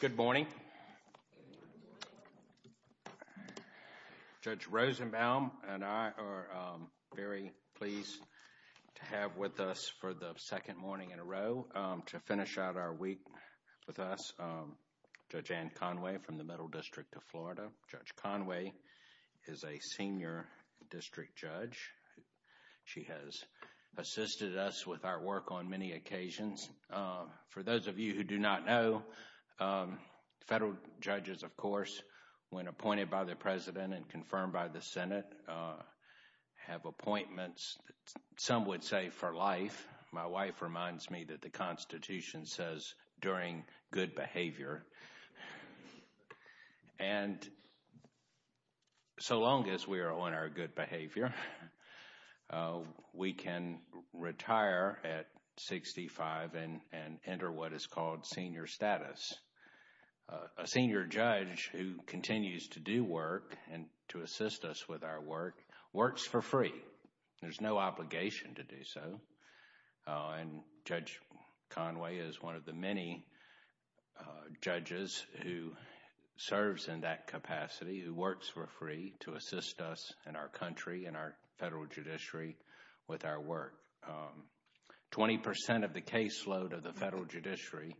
Good morning. Judge Rosenbaum and I are very pleased to have with us for the second morning in a row to finish out our week with us Judge Ann Conway from the Middle District of Florida. Judge Conway is a senior district judge. She has assisted us with our work on many occasions. For those of you who do not know, federal judges, of course, when appointed by the President and confirmed by the Senate, have appointments, some would say for life. My wife reminds me that the Constitution says during good behavior. And so long as we are on our good behavior, we can retire at 65 and enter what is called senior status. A senior judge who continues to do work and to assist us with our work, works for free. There's no obligation to do so. And Judge Conway is one of the many judges who serves in that capacity, who works for free to assist us in our country, in our federal judiciary, with our work. Twenty percent of the caseload of the federal judiciary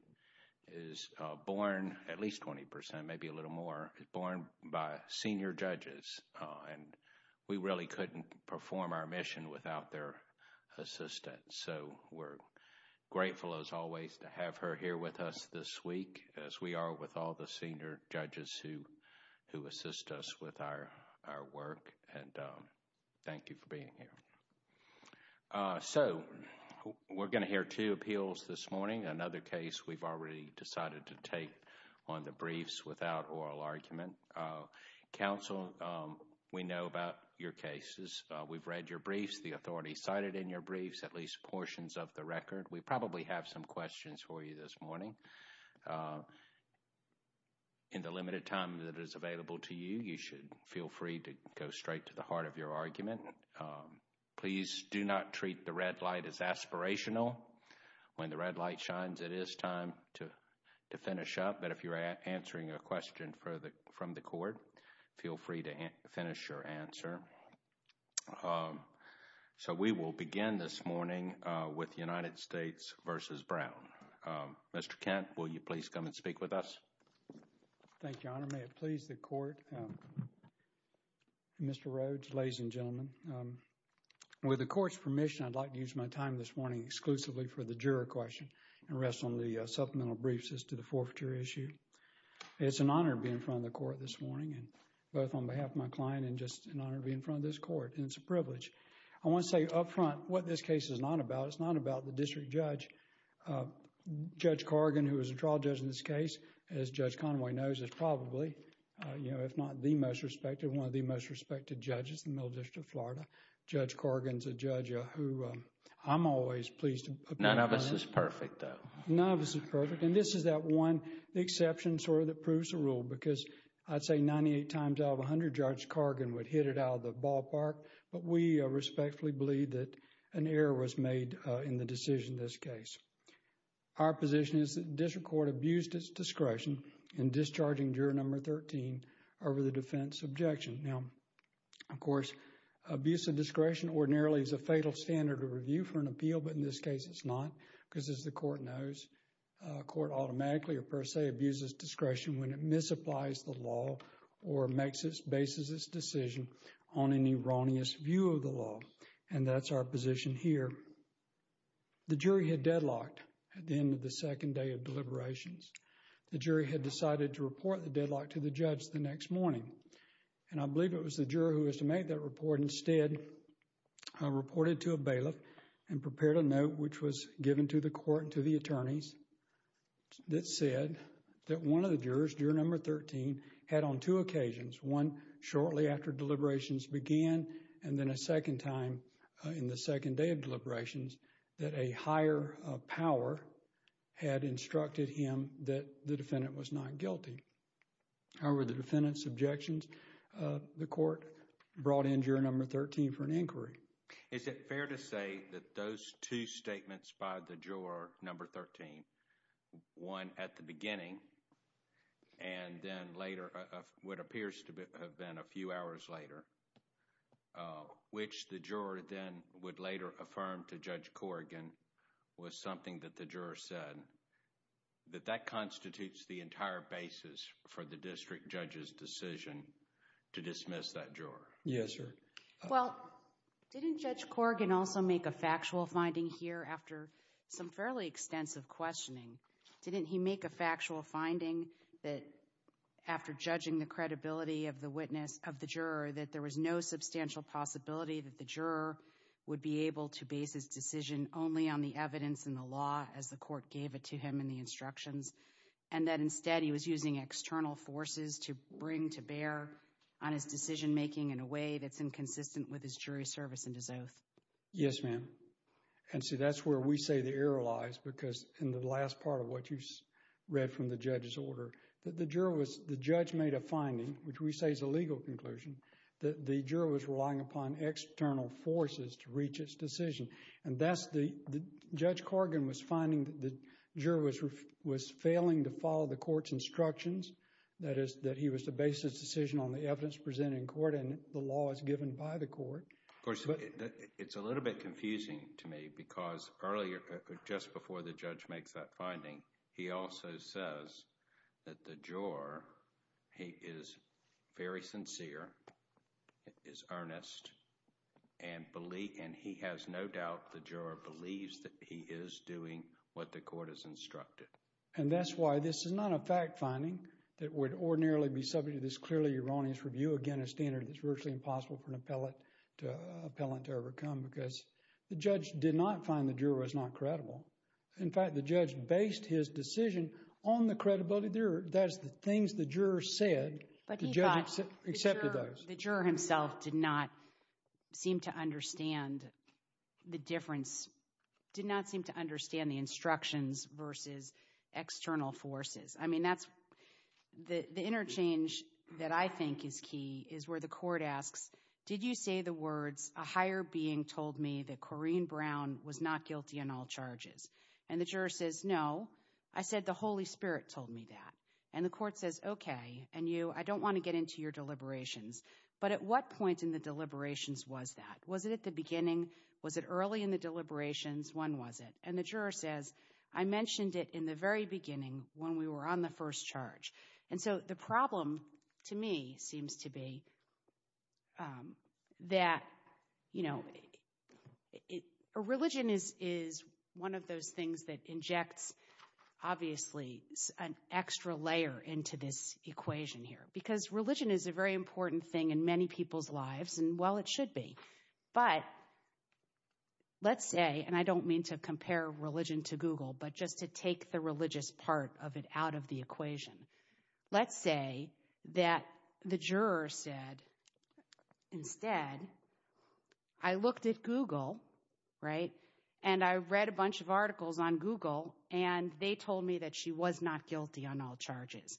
is born, at least twenty percent, maybe a little more, is born by senior judges. And we really couldn't perform our mission without their assistance. So we're grateful, as always, to have her here with us this week, as we are with all the senior judges who assist us with our work. And thank you for being here. So we're going to hear two appeals this morning. Another case we've already decided to take on the briefs without oral argument. Counsel, we know about your cases. We've read your briefs, the authority cited in your briefs, at least portions of the record. We probably have some questions for you this morning. In the limited time that is available to you, you should feel free to go straight to the heart of your argument. Please do not treat the red light as aspirational. When the red light shines, it is time to finish up. But if you're answering a question from the court, feel free to finish your answer. So we will begin this morning with United States v. Brown. Mr. Kent, will you please come and speak with us? Thank you, Your Honor. May it please the court. Mr. Rhodes, ladies and gentlemen, with the court's permission, I'd like to use my time this morning exclusively for the juror question and rest on the supplemental briefs as to the forfeiture issue. It's an honor to be in front of the court this morning, both on behalf of my client and just an honor to be in front of this court. It's a privilege. I want to say up front what this case is not about. It's not about the district judge. Judge Corrigan, who is a trial judge in this case, as Judge Conway knows, is probably, you know, if not the most respected, one of the most respected judges in the Middle District of Florida. Judge Corrigan is a judge who I'm always pleased to... None of us is perfect, though. None of us is perfect. And this is that one exception, sort of, that proves the rule because I'd say 98 times out of 100, Judge Corrigan would hit it out of the ballpark, but we respectfully believe that an error was made in the decision in this case. Our position is that the district court abused its discretion in discharging juror number 13 over the defense objection. Now, of course, abuse of discretion ordinarily is a fatal standard of review for an appeal, but in this case it's not because, as the court knows, court automatically or per se abuses discretion when it misapplies the law or makes its... bases its decision on an erroneous view of the law, and that's our position here. The jury had deadlocked at the end of the second day of deliberations. The jury had decided to report the deadlock to the judge the next morning, and I believe it was the juror who was to make that report instead reported to a bailiff and prepared a note which was given to the court and to the attorneys that said that one of the jurors, juror number 13, had on two occasions, one shortly after deliberations began and then a second time in the second day of deliberations, that a higher power had instructed him that the defendant was not guilty. However, the defendant's objections, the court brought in juror number 13 for an inquiry. Is it fair to say that those two statements by the juror number 13, one at the beginning and then later, what appears to have been a few hours later, which the juror then would later affirm to Judge Corrigan was something that the juror said, that that constitutes the entire basis for the district judge's decision to dismiss that juror? Yes, sir. Well, didn't Judge Corrigan also make a factual finding here after some fairly extensive questioning? Didn't he make a factual finding that after judging the credibility of the witness, of the juror, that there was no substantial possibility that the juror would be able to base his decision only on the evidence in the law as the court gave it to him in the instructions, and that instead he was using external forces to bring to bear on his decision making in a way that's inconsistent with his jury's service and his oath? Yes, ma'am. And see, that's where we say the error lies, because in the last part of what you read from the judge's order, that the juror was, the judge made a finding, which we say is a legal conclusion, that the juror was relying upon external forces to reach his decision. And that's the, Judge Corrigan was finding that the juror was failing to follow the court's instructions, that is, that he was to base his decision on the evidence presented in by the court. Of course, it's a little bit confusing to me, because earlier, just before the judge makes that finding, he also says that the juror, he is very sincere, is earnest, and believe, and he has no doubt the juror believes that he is doing what the court has instructed. And that's why this is not a fact finding that would ordinarily be subject to this clearly erroneous review. Again, a standard that's virtually impossible for an appellate to, appellant to overcome, because the judge did not find the juror was not credible. In fact, the judge based his decision on the credibility of the juror. That's the things the juror said, the juror accepted those. The juror himself did not seem to understand the difference, did not seem to understand the instructions versus external forces. I mean, that's the interchange that I think is key, is where the court asks, did you say the words, a higher being told me that Corrine Brown was not guilty on all charges? And the juror says, no, I said the Holy Spirit told me that. And the court says, okay, and you, I don't want to get into your deliberations. But at what point in the deliberations was that? Was it at the beginning? Was it early in the deliberations? When was it? And the juror says, I mentioned it in the very beginning when we were on the first charge. And so the problem to me seems to be that, you know, a religion is one of those things that injects, obviously, an extra layer into this equation here. Because religion is a very important thing in many people's lives, and well, it should be. But let's say, and I don't mean to compare religion to Google, but just to take the religious part of it out of the equation. Let's say that the juror said, instead, I looked at Google, right, and I read a bunch of articles on Google, and they told me that she was not guilty on all charges.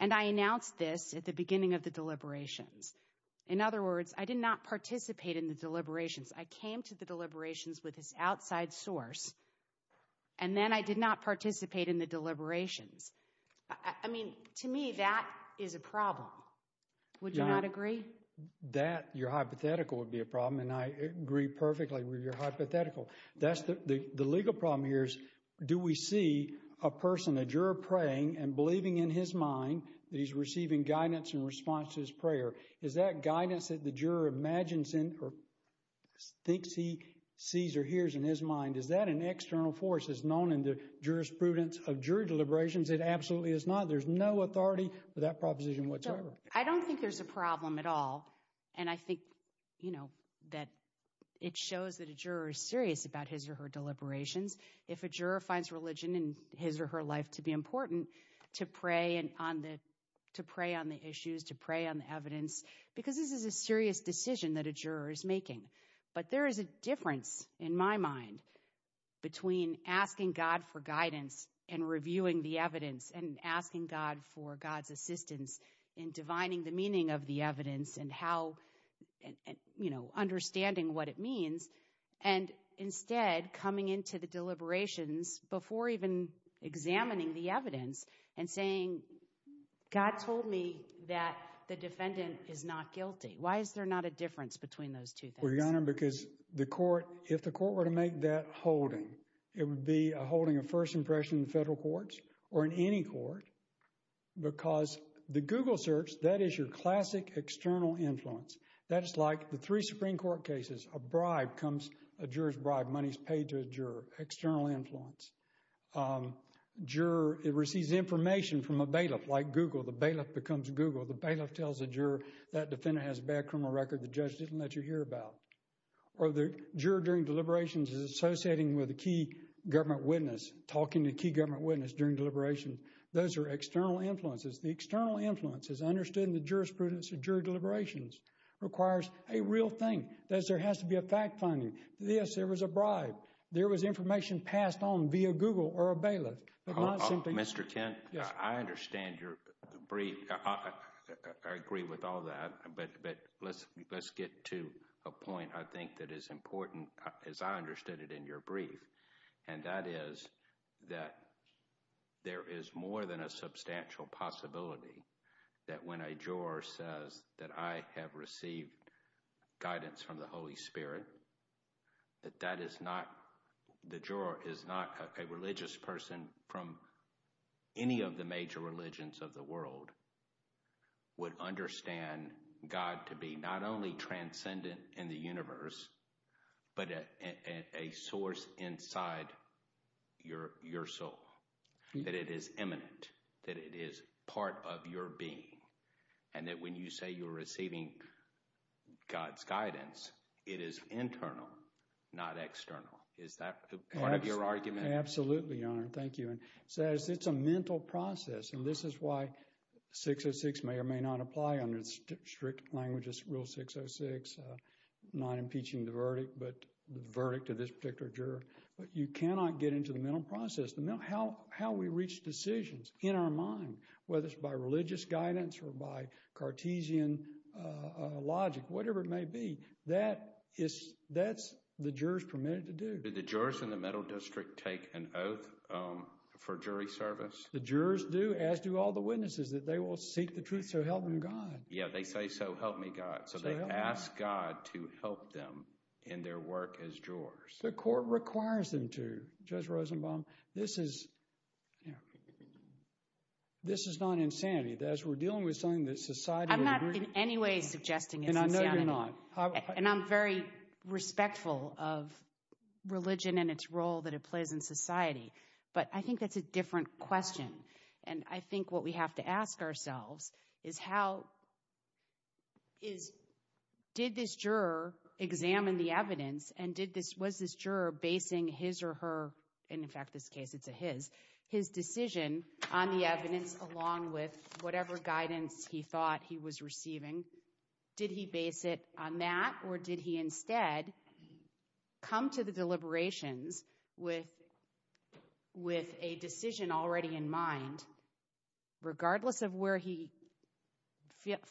And I announced this at the beginning of the deliberations. In other words, I did not participate in the deliberations. I came to the deliberations with this outside source, and then I did not participate in the deliberations. I mean, to me, that is a problem. Would you not agree? That, your hypothetical, would be a problem, and I agree perfectly with your hypothetical. The legal problem here is, do we see a person, a juror praying and believing in his mind that he's receiving guidance in response to his prayer? Is that guidance that the juror imagines in, or thinks he sees or hears in his mind, is that an external force that's known in the jurisprudence of jury deliberations? It absolutely is not. There's no authority for that proposition whatsoever. I don't think there's a problem at all. And I think, you know, that it shows that a juror is serious about his or her deliberations. If a juror finds religion in his or her life to be important, to pray on the issues, to pray on the evidence, because this is a serious decision that a juror is making. But there is a difference, in my mind, between asking God for guidance and reviewing the evidence, and asking God for God's assistance in divining the meaning of the evidence and how, you know, understanding what it means, and instead coming into the deliberations before even examining the evidence and saying, God told me that the defendant is not guilty. Why is there not a difference between those two things? Well, Your Honor, because the court, if the court were to make that holding, it would be a holding of first impression in federal courts, or in any court, because the Google search, that is your classic external influence. That is like the three Supreme Court cases, a bribe comes, a juror's bribe, money's paid to a juror, external influence. Juror, it receives information from a bailiff, like Google, the bailiff becomes Google. The bailiff tells the juror, that defendant has a bad criminal record, the judge didn't let you hear about. Or the juror during deliberations is associating with a key government witness, talking to a key government witness during deliberations. Those are external influences. The external influence is understood in the jurisprudence of juror deliberations, requires a real thing. That is, there has to be a fact-finding, this, there was a bribe, there was information passed on via Google or a bailiff, but not simply. Mr. Kent, I understand your brief, I agree with all that, but let's get to a point I think that is important, as I understood it in your brief, and that is that there is more than a substantial possibility that when a juror says that I have received guidance from the Holy Spirit, that that is not, the juror is not a religious person from any of the major religions of the world, would understand God to be not only transcendent in the universe, but a source inside your soul, that it is eminent, that it is part of your being, and that when you say you're receiving God's guidance, it is internal, not external. Is that part of your argument? Absolutely, Your Honor. Thank you. And so it's a mental process, and this is why 606 may or may not apply under strict language, Rule 606, not impeaching the verdict, but the verdict of this particular juror, but you cannot get into the mental process, how we reach decisions in our mind, whether it's by religious guidance or by Cartesian logic, whatever it may be, that is, that's the jurors permitted to do. Do the jurors in the mental district take an oath for jury service? The jurors do, as do all the witnesses, that they will seek the truth, so help them God. Yeah, they say, so help me God, so they ask God to help them in their work as jurors. The court requires them to, Judge Rosenbaum. This is, you know, this is not insanity. As we're dealing with something that society— I'm not in any way suggesting it's insanity, and I'm very respectful of religion and its role that it plays in society, but I think that's a different question, and I think what we have to ask ourselves is how, is, did this juror examine the evidence, and did this, was this juror basing his or her, and in fact this case it's a his, his decision on the evidence along with whatever guidance he thought he was receiving, did he base it on that, or did he instead come to the deliberations with, with a decision already in mind, regardless of where he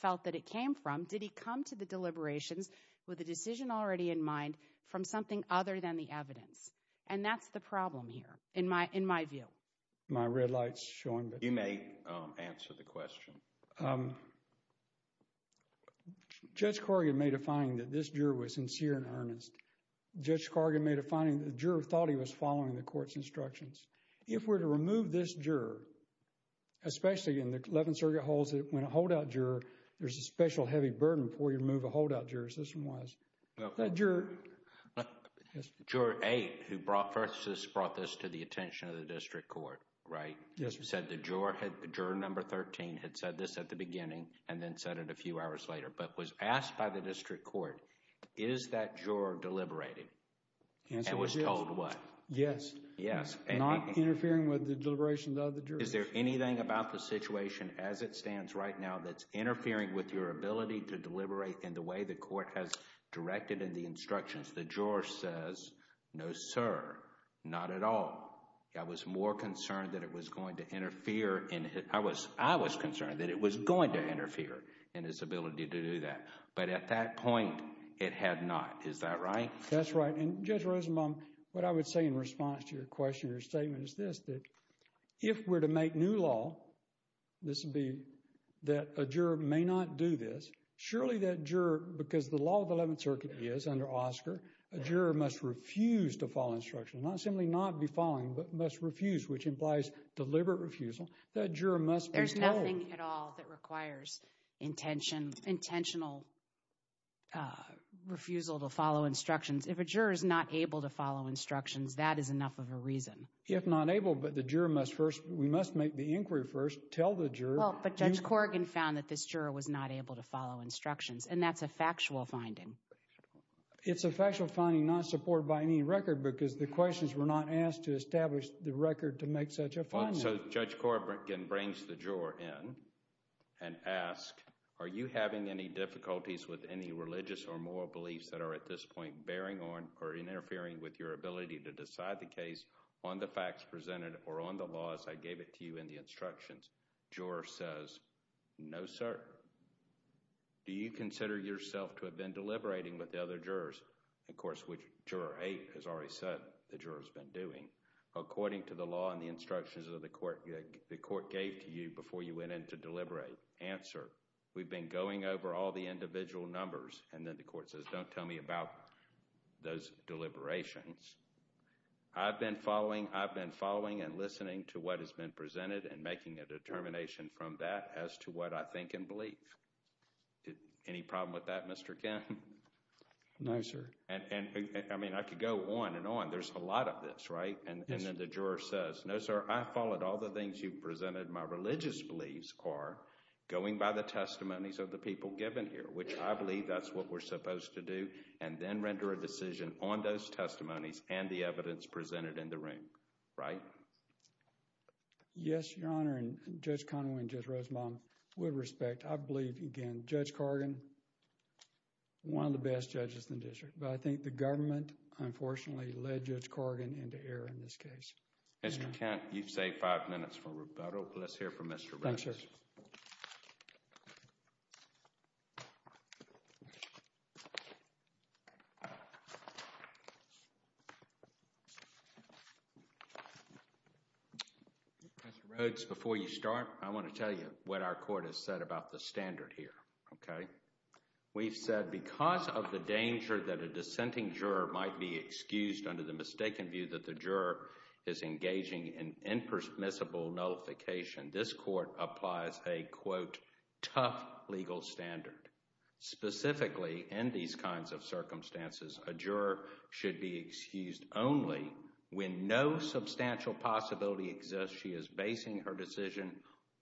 felt that it came from, did he come to the deliberations with a decision already in mind from something other than the evidence? And that's the problem here, in my, in my view. My red light's showing, but you may answer the question. Um, Judge Corrigan made a finding that this juror was sincere and earnest. Judge Corrigan made a finding that the juror thought he was following the court's instructions. If we're to remove this juror, especially in the Eleventh Circuit holds that when a holdout juror, there's a special heavy burden before you remove a holdout juror, as this one was. That juror— No. Yes. Juror eight, who brought, first brought this to the attention of the district court, right? Yes, sir. Said the juror had, juror number thirteen had said this at the beginning and then said it a few hours later, but was asked by the district court, is that juror deliberating? Answer, yes. And was told what? Yes. Yes. Not interfering with the deliberations of the jurors. Is there anything about the situation as it stands right now that's interfering with your ability to deliberate in the way the court has directed in the instructions? The juror says, no, sir. Not at all. I was more concerned that it was going to interfere in his, I was, I was concerned that it was going to interfere in his ability to do that, but at that point, it had not. Is that right? That's right. And Judge Rosenbaum, what I would say in response to your question, your statement is this. If we're to make new law, this would be that a juror may not do this. Surely that juror, because the law of the Eleventh Circuit is under Oscar, a juror must refuse to follow instructions, not simply not be following, but must refuse, which implies deliberate refusal. That juror must be told. There's nothing at all that requires intention, intentional refusal to follow instructions. If a juror is not able to follow instructions, that is enough of a reason. If not able, but the juror must first, we must make the inquiry first, tell the juror. Well, but Judge Corrigan found that this juror was not able to follow instructions, and that's a factual finding. It's a factual finding not supported by any record because the questions were not asked to establish the record to make such a finding. So Judge Corrigan brings the juror in and asks, are you having any difficulties with any religious or moral beliefs that are at this point bearing on or interfering with your ability to decide the case on the facts presented or on the laws I gave it to you in the instructions? Juror says, no, sir. Do you consider yourself to have been deliberating with the other jurors? Of course, which Juror 8 has already said the juror has been doing. According to the law and the instructions that the court gave to you before you went in to deliberate, answer, we've been going over all the individual numbers. And then the court says, don't tell me about those deliberations. I've been following. I've been following and listening to what has been presented and making a determination from that as to what I think and believe. Any problem with that, Mr. Kim? No, sir. And I mean, I could go on and on. There's a lot of this, right? And then the juror says, no, sir, I followed all the things you presented. My religious beliefs are going by the testimonies of the people given here, which I believe that's what we're supposed to do, and then render a decision on those testimonies and the evidence presented in the room, right? Yes, Your Honor, and Judge Conway and Judge Rosenbaum, with respect, I believe, again, Judge Corrigan, one of the best judges in the district. But I think the government, unfortunately, led Judge Corrigan into error in this case. Mr. Kent, you've saved five minutes for rebuttal, but let's hear from Mr. Rose. Thank you, sir. Mr. Rhodes, before you start, I want to tell you what our court has said about the standard here, okay? We've said because of the danger that a dissenting juror might be excused under the mistaken view that the juror is engaging in impermissible nullification, this court applies a, quote, tough legal standard. Specifically, in these kinds of circumstances, a juror should be excused only when no substantial possibility exists she is basing her decision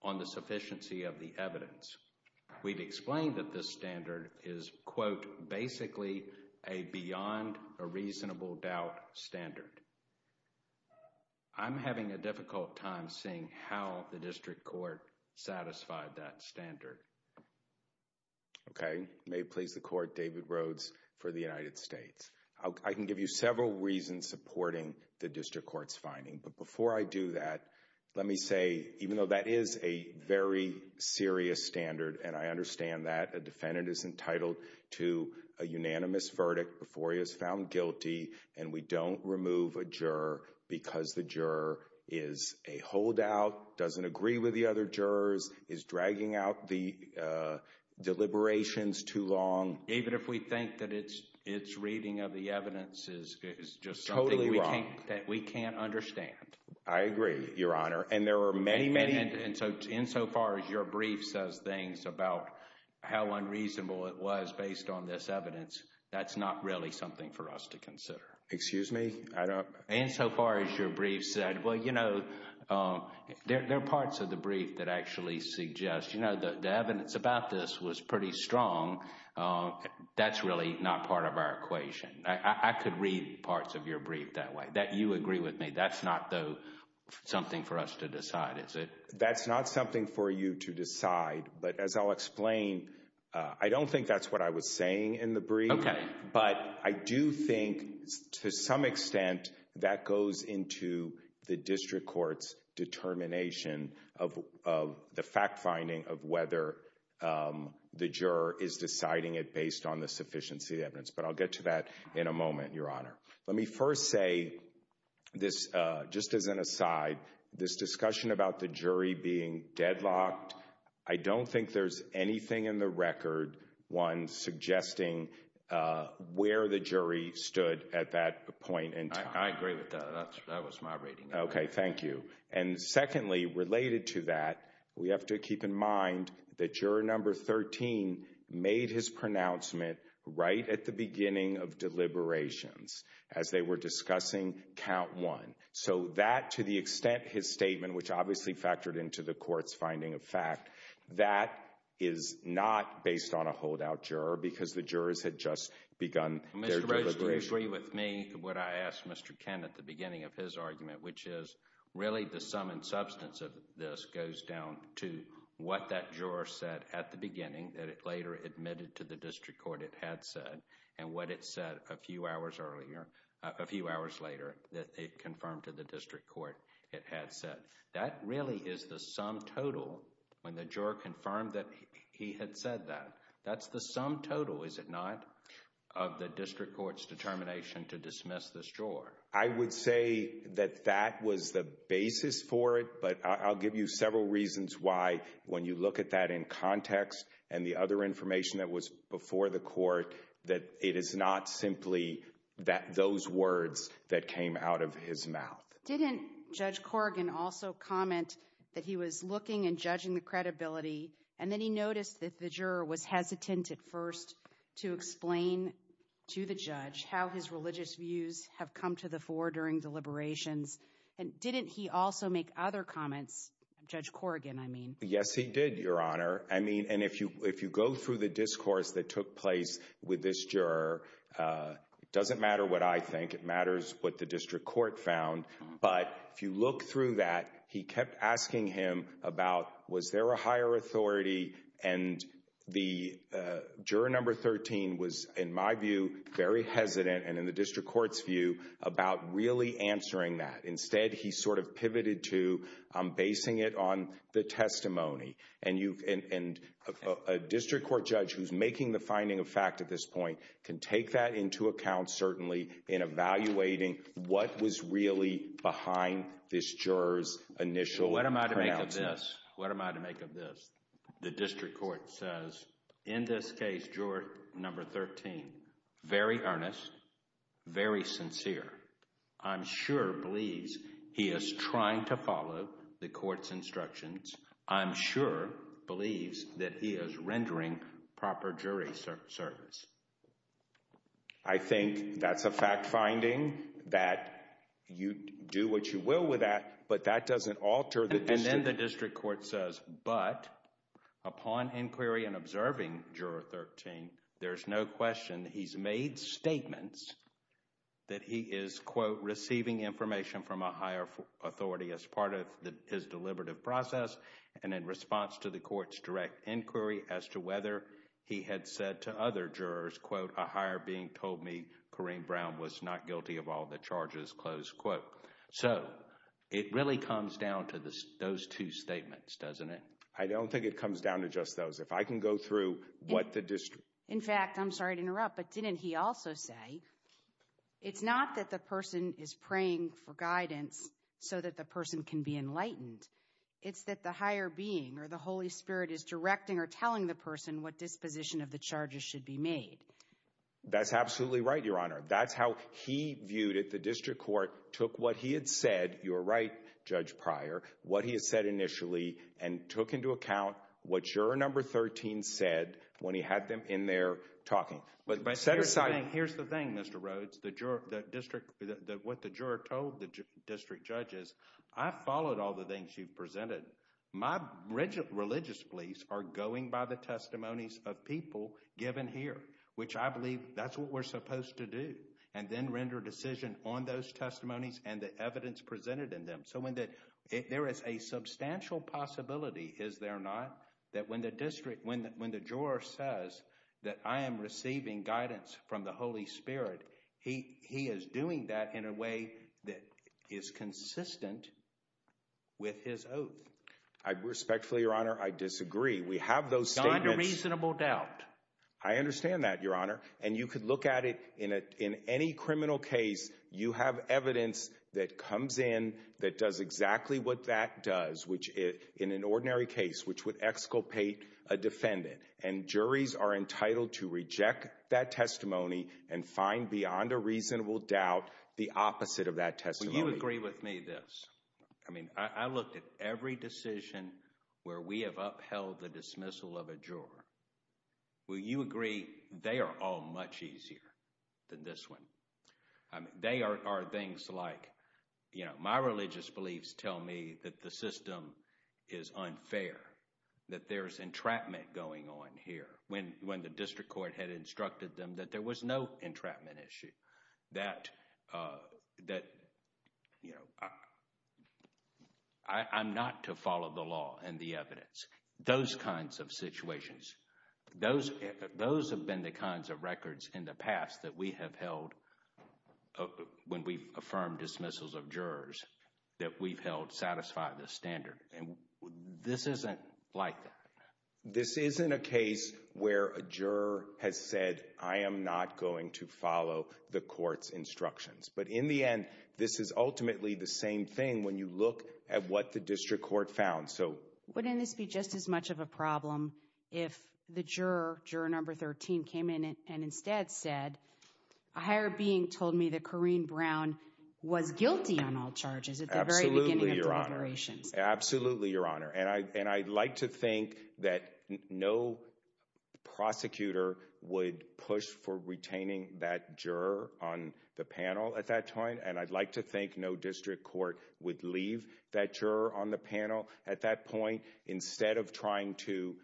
on the sufficiency of the evidence. We've explained that this standard is, quote, basically a beyond a reasonable doubt standard. I'm having a difficult time seeing how the district court satisfied that standard. Okay. May it please the court, David Rhodes for the United States. I can give you several reasons supporting the district court's finding, but before I do that, let me say, even though that is a very serious standard, and I understand that a defendant is entitled to a unanimous verdict before he is found guilty, and we don't remove a juror because the juror is a holdout, doesn't agree with the other jurors, is dragging out the deliberations too long. Even if we think that it's reading of the evidence is just something that we can't understand. I agree, Your Honor. And there are many, many... Insofar as your brief says things about how unreasonable it was based on this evidence, that's not really something for us to consider. Excuse me? I don't... Insofar as your brief said, well, you know, there are parts of the brief that actually suggest. You know, the evidence about this was pretty strong. That's really not part of our equation. I could read parts of your brief that way, that you agree with me. That's not something for us to decide, is it? That's not something for you to decide, but as I'll explain, I don't think that's what I was saying in the brief, but I do think to some extent that goes into the district court's determination of the fact-finding of whether the juror is deciding it based on the sufficiency of the evidence, but I'll get to that in a moment, Your Honor. Let me first say this, just as an aside, this discussion about the jury being deadlocked, I don't think there's anything in the record, one, suggesting where the jury stood at that point in time. I agree with that. That was my reading. Okay. Thank you. And secondly, related to that, we have to keep in mind that juror number 13 made his pronouncement right at the beginning of deliberations as they were discussing count one. So that, to the extent his statement, which obviously factored into the court's finding of fact, that is not based on a holdout juror because the jurors had just begun their deliberation. Mr. Roach, do you agree with me, what I asked Mr. Kent at the beginning of his argument, which is really the sum and substance of this goes down to what that juror said at the beginning that it later admitted to the district court it had said, and what it said a few hours earlier, a few hours later, that it confirmed to the district court it had said. That really is the sum total when the juror confirmed that he had said that. That's the sum total, is it not, of the district court's determination to dismiss this juror? I would say that that was the basis for it, but I'll give you several reasons why, when you look at that in context and the other information that was before the court, that it is not simply those words that came out of his mouth. Didn't Judge Corrigan also comment that he was looking and judging the credibility, and then he noticed that the juror was hesitant at first to explain to the judge how his religious views have come to the fore during deliberations, and didn't he also make other comments, Judge Corrigan, I mean? Yes, he did, Your Honor. I mean, and if you go through the discourse that took place with this juror, it doesn't matter what I think. It matters what the district court found, but if you look through that, he kept asking him about was there a higher authority, and the juror number 13 was, in my view, very honest. He didn't have a district court's view about really answering that. Instead, he sort of pivoted to basing it on the testimony, and a district court judge who's making the finding of fact at this point can take that into account, certainly, in evaluating what was really behind this juror's initial pronouncing. What am I to make of this? The district court says, in this case, juror number 13, very earnest, very sincere. I'm sure believes he is trying to follow the court's instructions. I'm sure believes that he is rendering proper jury service. I think that's a fact-finding that you do what you will with that, but that doesn't alter the district. The district court says, but upon inquiry and observing juror 13, there's no question he's made statements that he is, quote, receiving information from a higher authority as part of his deliberative process, and in response to the court's direct inquiry as to whether he had said to other jurors, quote, a higher being told me Corrine Brown was not guilty of all the charges, close quote. So, it really comes down to those two statements, doesn't it? I don't think it comes down to just those. If I can go through what the district... In fact, I'm sorry to interrupt, but didn't he also say, it's not that the person is praying for guidance so that the person can be enlightened, it's that the higher being or the Holy Spirit is directing or telling the person what disposition of the charges should be made. That's absolutely right, Your Honor. That's how he viewed it. The district court took what he had said, you're right, Judge Pryor, what he had said initially and took into account what juror number 13 said when he had them in there talking. But set aside... Here's the thing, Mr. Rhodes, what the juror told the district judge is, I followed all the things you've presented. My religious beliefs are going by the testimonies of people given here, which I believe that's what we're supposed to do, and then render a decision on those testimonies and the evidence presented in them. So there is a substantial possibility, is there not, that when the juror says that I am receiving guidance from the Holy Spirit, he is doing that in a way that is consistent with his oath. I respectfully, Your Honor, I disagree. We have those statements... Not in a reasonable doubt. I understand that, Your Honor. And you could look at it in any criminal case, you have evidence that comes in that does exactly what that does in an ordinary case, which would exculpate a defendant. And juries are entitled to reject that testimony and find beyond a reasonable doubt the opposite of that testimony. Will you agree with me this? I mean, I looked at every decision where we have upheld the dismissal of a juror. Will you agree they are all much easier than this one? They are things like, you know, my religious beliefs tell me that the system is unfair, that there's entrapment going on here. When the district court had instructed them that there was no entrapment issue, that I'm not to follow the law and the evidence, those kinds of situations, those have been the kinds of records in the past that we have held when we've affirmed dismissals of jurors that we've held satisfy the standard. And this isn't like that. This isn't a case where a juror has said, I am not going to follow the court's instructions. But in the end, this is ultimately the same thing when you look at what the district court found. So wouldn't this be just as much of a problem if the juror, juror number 13, came in and instead said, a higher being told me that Corrine Brown was guilty on all charges at the very beginning of deliberations? Absolutely, Your Honor. And I'd like to think that no prosecutor would push for retaining that juror on the panel at that time. And I'd like to think no district court would leave that juror on the panel at that point instead of trying to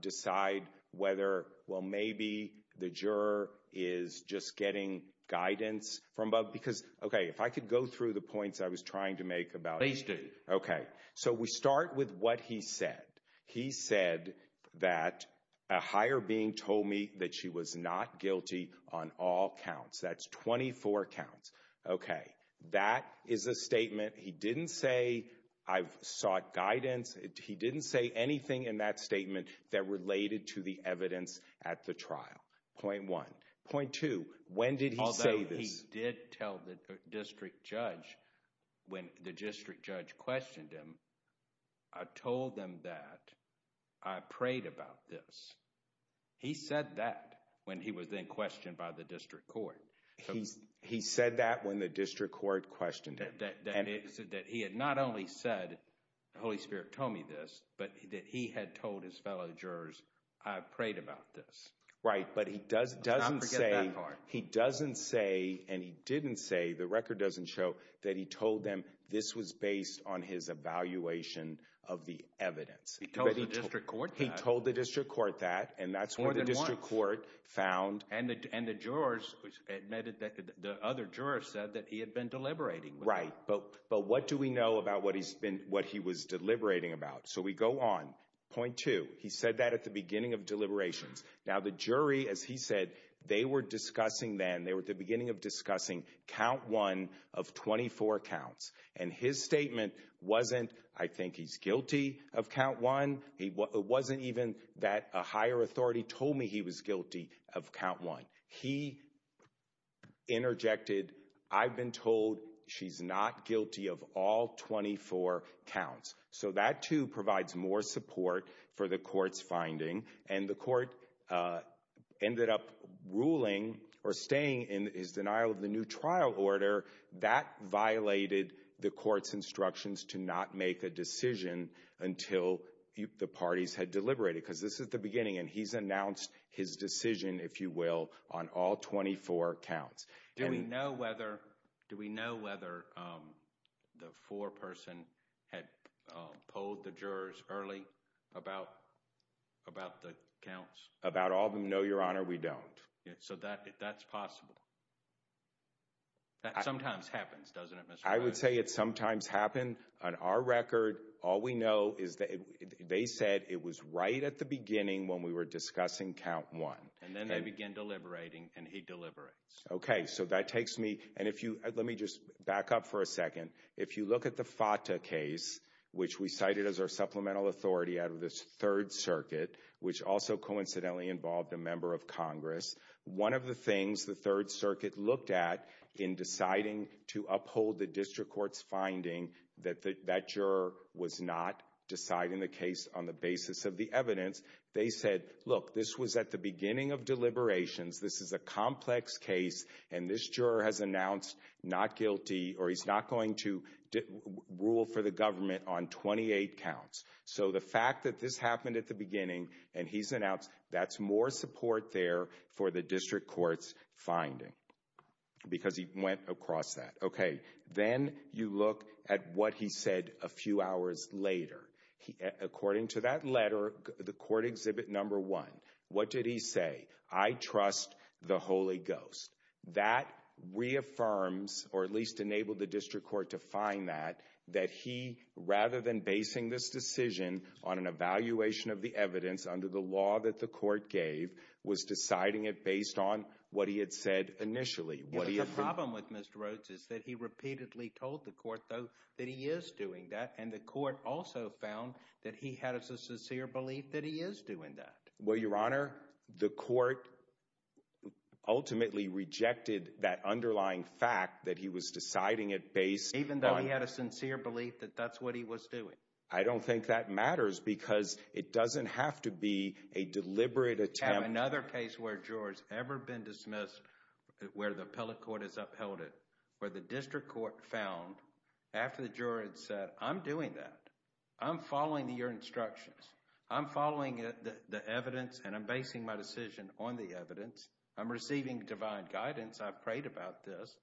decide whether, well, maybe the juror is just getting guidance from above. Because, OK, if I could go through the points I was trying to make about it. Please do. OK. So we start with what he said. He said that a higher being told me that she was not guilty on all counts. That's 24 counts. OK. That is a statement. He didn't say, I've sought guidance. He didn't say anything in that statement that related to the evidence at the trial. Point one. Point two. When did he say this? Although he did tell the district judge, when the district judge questioned him, I told them that I prayed about this. He said that when he was then questioned by the district court. He said that when the district court questioned him. That he had not only said, the Holy Spirit told me this, but that he had told his fellow jurors, I prayed about this. Right. But he doesn't say, he doesn't say, and he didn't say, the record doesn't show, that he told them this was based on his evaluation of the evidence. He told the district court that? More than once. And that's what the district court found. And the jurors admitted that the other juror said that he had been deliberating. Right. But what do we know about what he was deliberating about? So we go on. Point two. He said that at the beginning of deliberations. Now the jury, as he said, they were discussing then, they were at the beginning of discussing count one of 24 counts. And his statement wasn't, I think he's guilty of count one. It wasn't even that a higher authority told me he was guilty of count one. He interjected, I've been told she's not guilty of all 24 counts. So that too provides more support for the court's finding. And the court ended up ruling, or staying in his denial of the new trial order. That violated the court's instructions to not make a decision until the parties had deliberated. Because this is the beginning. And he's announced his decision, if you will, on all 24 counts. Do we know whether the foreperson had told the jurors early about the counts? About all of them? No, Your Honor, we don't. So that's possible. That sometimes happens, doesn't it, Mr. Bannon? I would say it sometimes happens. On our record, all we know is that they said it was right at the beginning when we were discussing count one. And then they begin deliberating, and he deliberates. Okay, so that takes me, and if you, let me just back up for a second. If you look at the FATA case, which we cited as our supplemental authority out of the Third Circuit, which also coincidentally involved a member of Congress. One of the things the Third Circuit looked at in deciding to uphold the district court's finding that that juror was not deciding the case on the basis of the evidence. They said, look, this was at the beginning of deliberations. This is a complex case. And this juror has announced not guilty, or he's not going to rule for the government on 28 counts. So the fact that this happened at the beginning, and he's announced that's more support there for the district court's finding. Because he went across that. Okay, then you look at what he said a few hours later. According to that letter, the court exhibit number one, what did he say? I trust the Holy Ghost. That reaffirms, or at least enabled the district court to find that, that he, rather than basing this decision on an evaluation of the evidence under the law that the court gave, was decided it based on what he had said initially. The problem with Mr. Rhodes is that he repeatedly told the court, though, that he is doing that. And the court also found that he had a sincere belief that he is doing that. Well, Your Honor, the court ultimately rejected that underlying fact that he was deciding it based on... Even though he had a sincere belief that that's what he was doing. I don't think that matters because it doesn't have to be a deliberate attempt... I have another case where a juror has ever been dismissed, where the appellate court has upheld it, where the district court found, after the juror had said, I'm doing that. I'm following your instructions. I'm following the evidence and I'm basing my decision on the evidence. I'm receiving divine guidance. I've prayed about this.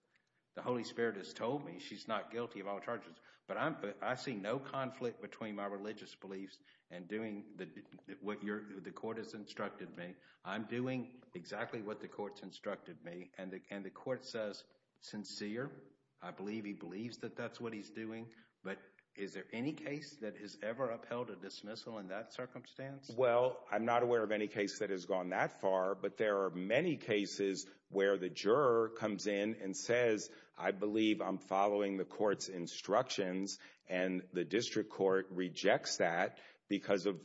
The Holy Spirit has told me she's not guilty of all charges, but I see no conflict between my religious beliefs and doing what the court has instructed me. I'm doing exactly what the court's instructed me. And the court says, sincere, I believe he believes that that's what he's doing. But is there any case that has ever upheld a dismissal in that circumstance? Well, I'm not aware of any case that has gone that far. But there are many cases where the juror comes in and says, I believe I'm following the court's instructions. And the court rejects that because of...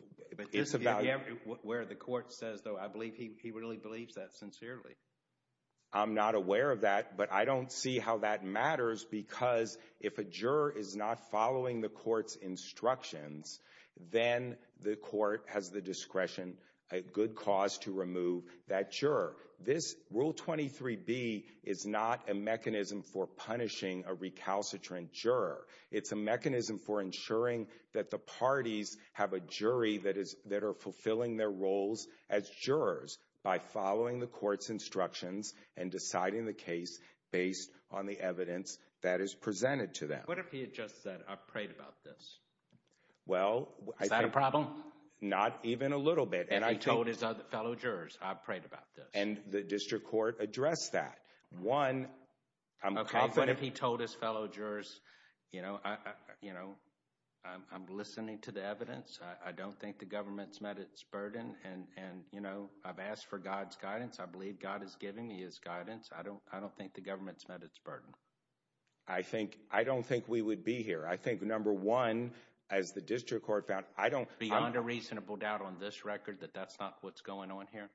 Where the court says, though, I believe he really believes that sincerely. I'm not aware of that, but I don't see how that matters because if a juror is not following the court's instructions, then the court has the discretion, a good cause to remove that juror. This Rule 23B is not a mechanism for punishing a recalcitrant juror. It's a mechanism for ensuring that the parties have a jury that is, that are fulfilling their roles as jurors by following the court's instructions and deciding the case based on the evidence that is presented to them. What if he had just said, I've prayed about this? Well... Is that a problem? Not even a little bit. And he told his fellow jurors, I've prayed about this. And the district court addressed that. One, I'm confident... What if he told his fellow jurors, you know, I'm listening to the evidence. I don't think the government's met its burden and, you know, I've asked for God's guidance. I believe God is giving me his guidance. I don't think the government's met its burden. I think, I don't think we would be here. I think, number one, as the district court found, I don't... Beyond a reasonable doubt on this record that that's not what's going on here?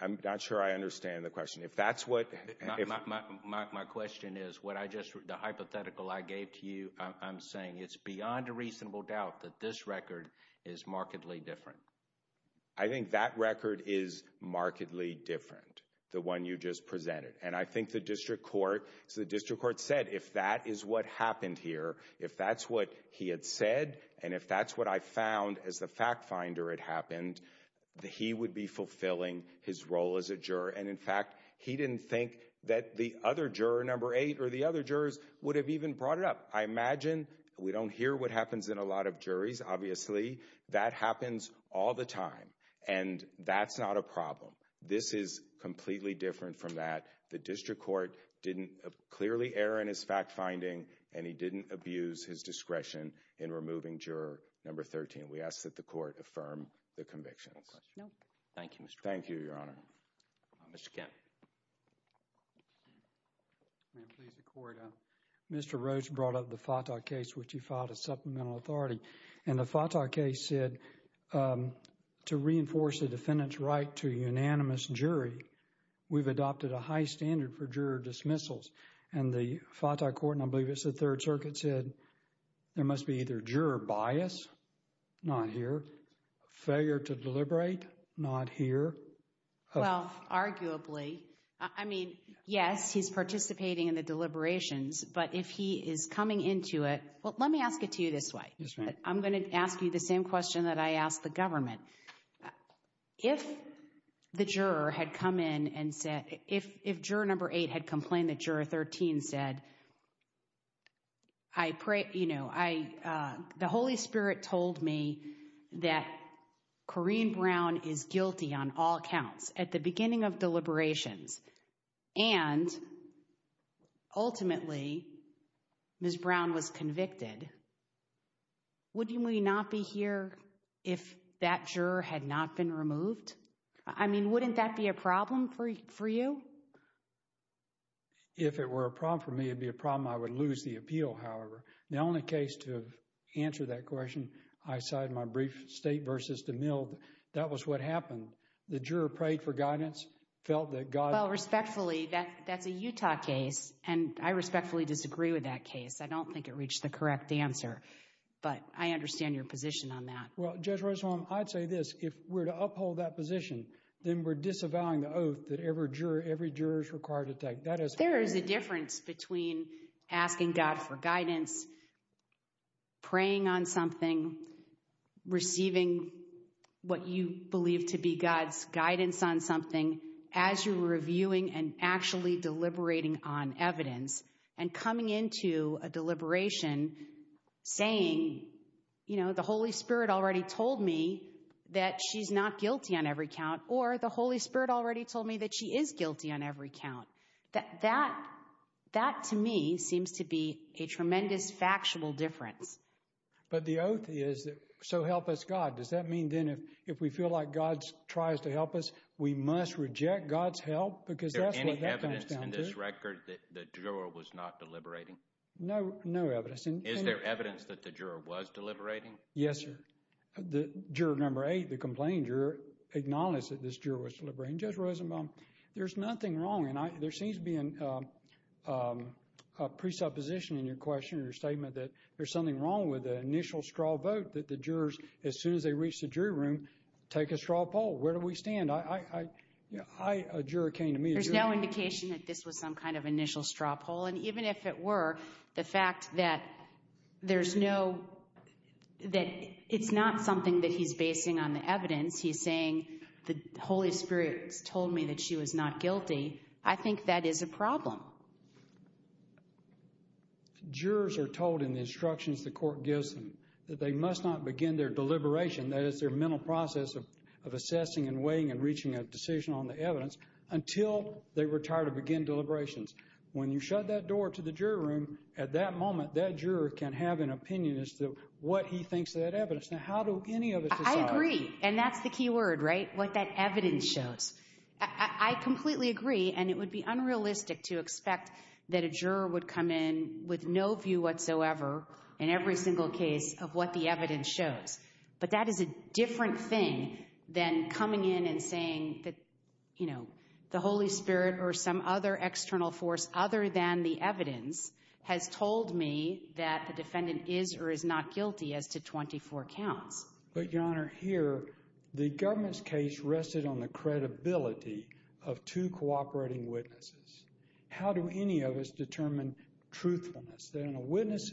I'm not sure I understand the question. If that's what... My question is, what I just, the hypothetical I gave to you, I'm saying it's beyond a reasonable doubt that this record is markedly different. I think that record is markedly different, the one you just presented. And I think the district court, so the district court said, if that is what happened here, if that's what he had said, and if that's what I found as the fact finder had happened, he would be fulfilling his role as a juror. And in fact, he didn't think that the other juror, number eight, or the other jurors would have even brought it up. I imagine we don't hear what happens in a lot of juries, obviously. That happens all the time. And that's not a problem. This is completely different from that. The district court didn't clearly err in his fact finding, and he didn't abuse his discretion in removing juror number 13. We ask that the court affirm the convictions. No question. Thank you, Mr. Roach. Thank you, Your Honor. Mr. Kemp. May I please record, Mr. Roach brought up the Fatah case, which he filed as supplemental authority. And the Fatah case said, to reinforce the defendant's right to a unanimous jury, we've adopted a high standard for juror dismissals. And the Fatah court, and I believe it's the Third Circuit, said, there must be either juror bias, not here, failure to deliberate, not here. Well, arguably, I mean, yes, he's participating in the deliberations. But if he is coming into it, well, let me ask it to you this way. I'm going to ask you the same question that I asked the government. If the juror had come in and said, if juror number 8 had complained that juror 13 said, I pray, you know, I, the Holy Spirit told me that Corrine Brown is guilty on all counts at the beginning of deliberations, and ultimately, Ms. Brown was convicted, would we not be here if that juror had not been removed? I mean, wouldn't that be a problem for you? If it were a problem for me, it'd be a problem I would lose the appeal, however. The only case to answer that question, I cited my brief state versus the mill. That was what happened. The juror prayed for guidance, felt that God... Well, respectfully, that's a Utah case. And I respectfully disagree with that case. I don't think it reached the correct answer. But I understand your position on that. Well, Judge Rosenbaum, I'd say this, if we're to uphold that position, then we're disavowing the oath that every juror is required to take. There is a difference between asking God for guidance, praying on something, receiving what you believe to be God's guidance on something, as you're reviewing and actually deliberating on evidence, and coming into a deliberation saying, you know, the Holy Spirit already told me that she's not guilty on every count, or the Holy Spirit already told me that she is guilty on every count. That, to me, seems to be a tremendous factual difference. But the oath is, so help us God. Does that mean then if we feel like God tries to help us, we must reject God's help? Because that's what that comes down to. Is there any evidence in this record that the juror was not deliberating? No, no evidence. Is there evidence that the juror was deliberating? Yes, sir. The juror number eight, the complaining juror, acknowledged that this juror was deliberating. Judge Rosenbaum, there's nothing wrong. And there seems to be a presupposition in your question, in your statement, that there's something wrong with the initial straw vote, that the jurors, as soon as they reach the jury room, take a straw poll. Where do we stand? I, a juror came to me. There's no indication that this was some kind of initial straw poll. And even if it were, the fact that there's no, that it's not something that he's basing on the evidence. He's saying the Holy Spirit told me that she was not guilty. I think that is a problem. Jurors are told in the instructions the court gives them that they must not begin their deliberation, that is their mental process of assessing and weighing and reaching a decision on the evidence, until they retire to begin deliberations. When you shut that door to the jury room, at that moment, that juror can have an opinion as to what he thinks of that evidence. Now, how do any of us decide? I agree. And that's the key word, right? What that evidence shows. I completely agree. And it would be unrealistic to expect that a juror would come in with no view whatsoever, in every single case, of what the evidence shows. But that is a different thing than coming in and saying that, you know, the Holy Spirit or some other external force other than the evidence has told me that the defendant is or is not guilty as to 24 counts. But, Your Honor, here, the government's case rested on the credibility of two cooperating witnesses. How do any of us determine truthfulness? Then a witness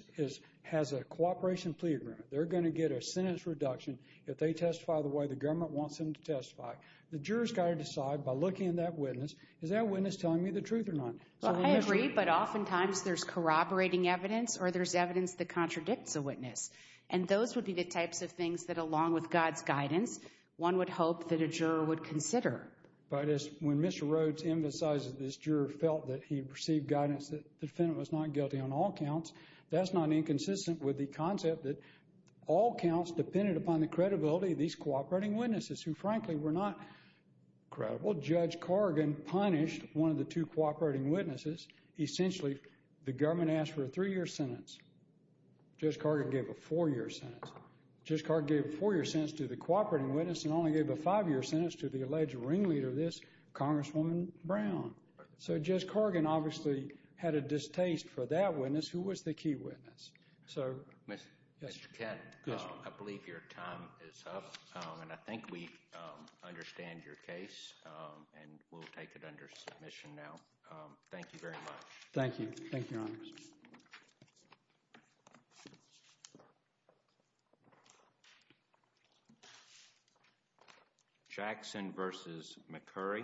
has a cooperation plea agreement. They're going to get a sentence reduction if they testify the way the government wants them to testify. The juror's got to decide, by looking at that witness, is that witness telling me the truth or not? Well, I agree. But oftentimes, there's corroborating evidence or there's evidence that contradicts a witness. And those would be the types of things that, along with God's guidance, one would hope that a juror would consider. But when Mr. Rhodes emphasizes this, juror felt that he received guidance that the defendant was not guilty on all counts, that's not inconsistent with the concept that all counts depended upon the credibility of these cooperating witnesses who, frankly, were not credible. Judge Cargan punished one of the two cooperating witnesses. Essentially, the government asked for a three-year sentence. Judge Cargan gave a four-year sentence. Judge Cargan gave a four-year sentence to the cooperating witness and only gave a five-year sentence to the alleged ringleader of this, Congresswoman Brown. So Judge Cargan obviously had a distaste for that witness, who was the key witness. So, Mr. Kent, I believe your time is up. And I think we understand your case. And we'll take it under submission now. Thank you very much. Thank you. Thank you, Your Honor. Jackson versus McCurry.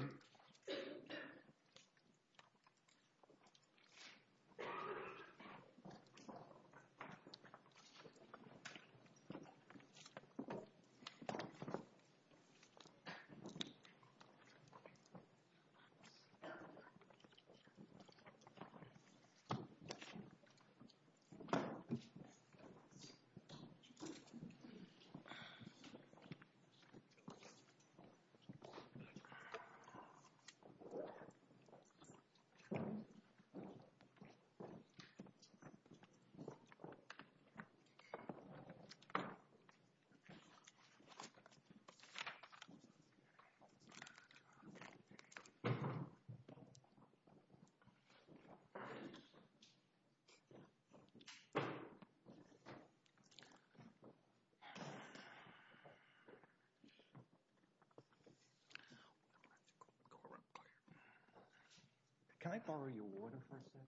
Can I borrow your water for a second?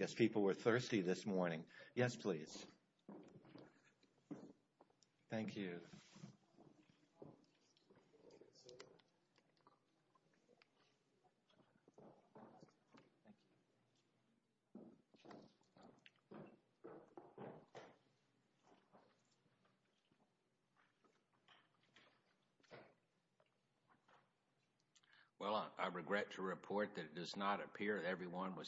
I guess people were thirsty this morning. Yes, please. Thank you. Thank you. Well, I regret to report that it does not appear everyone was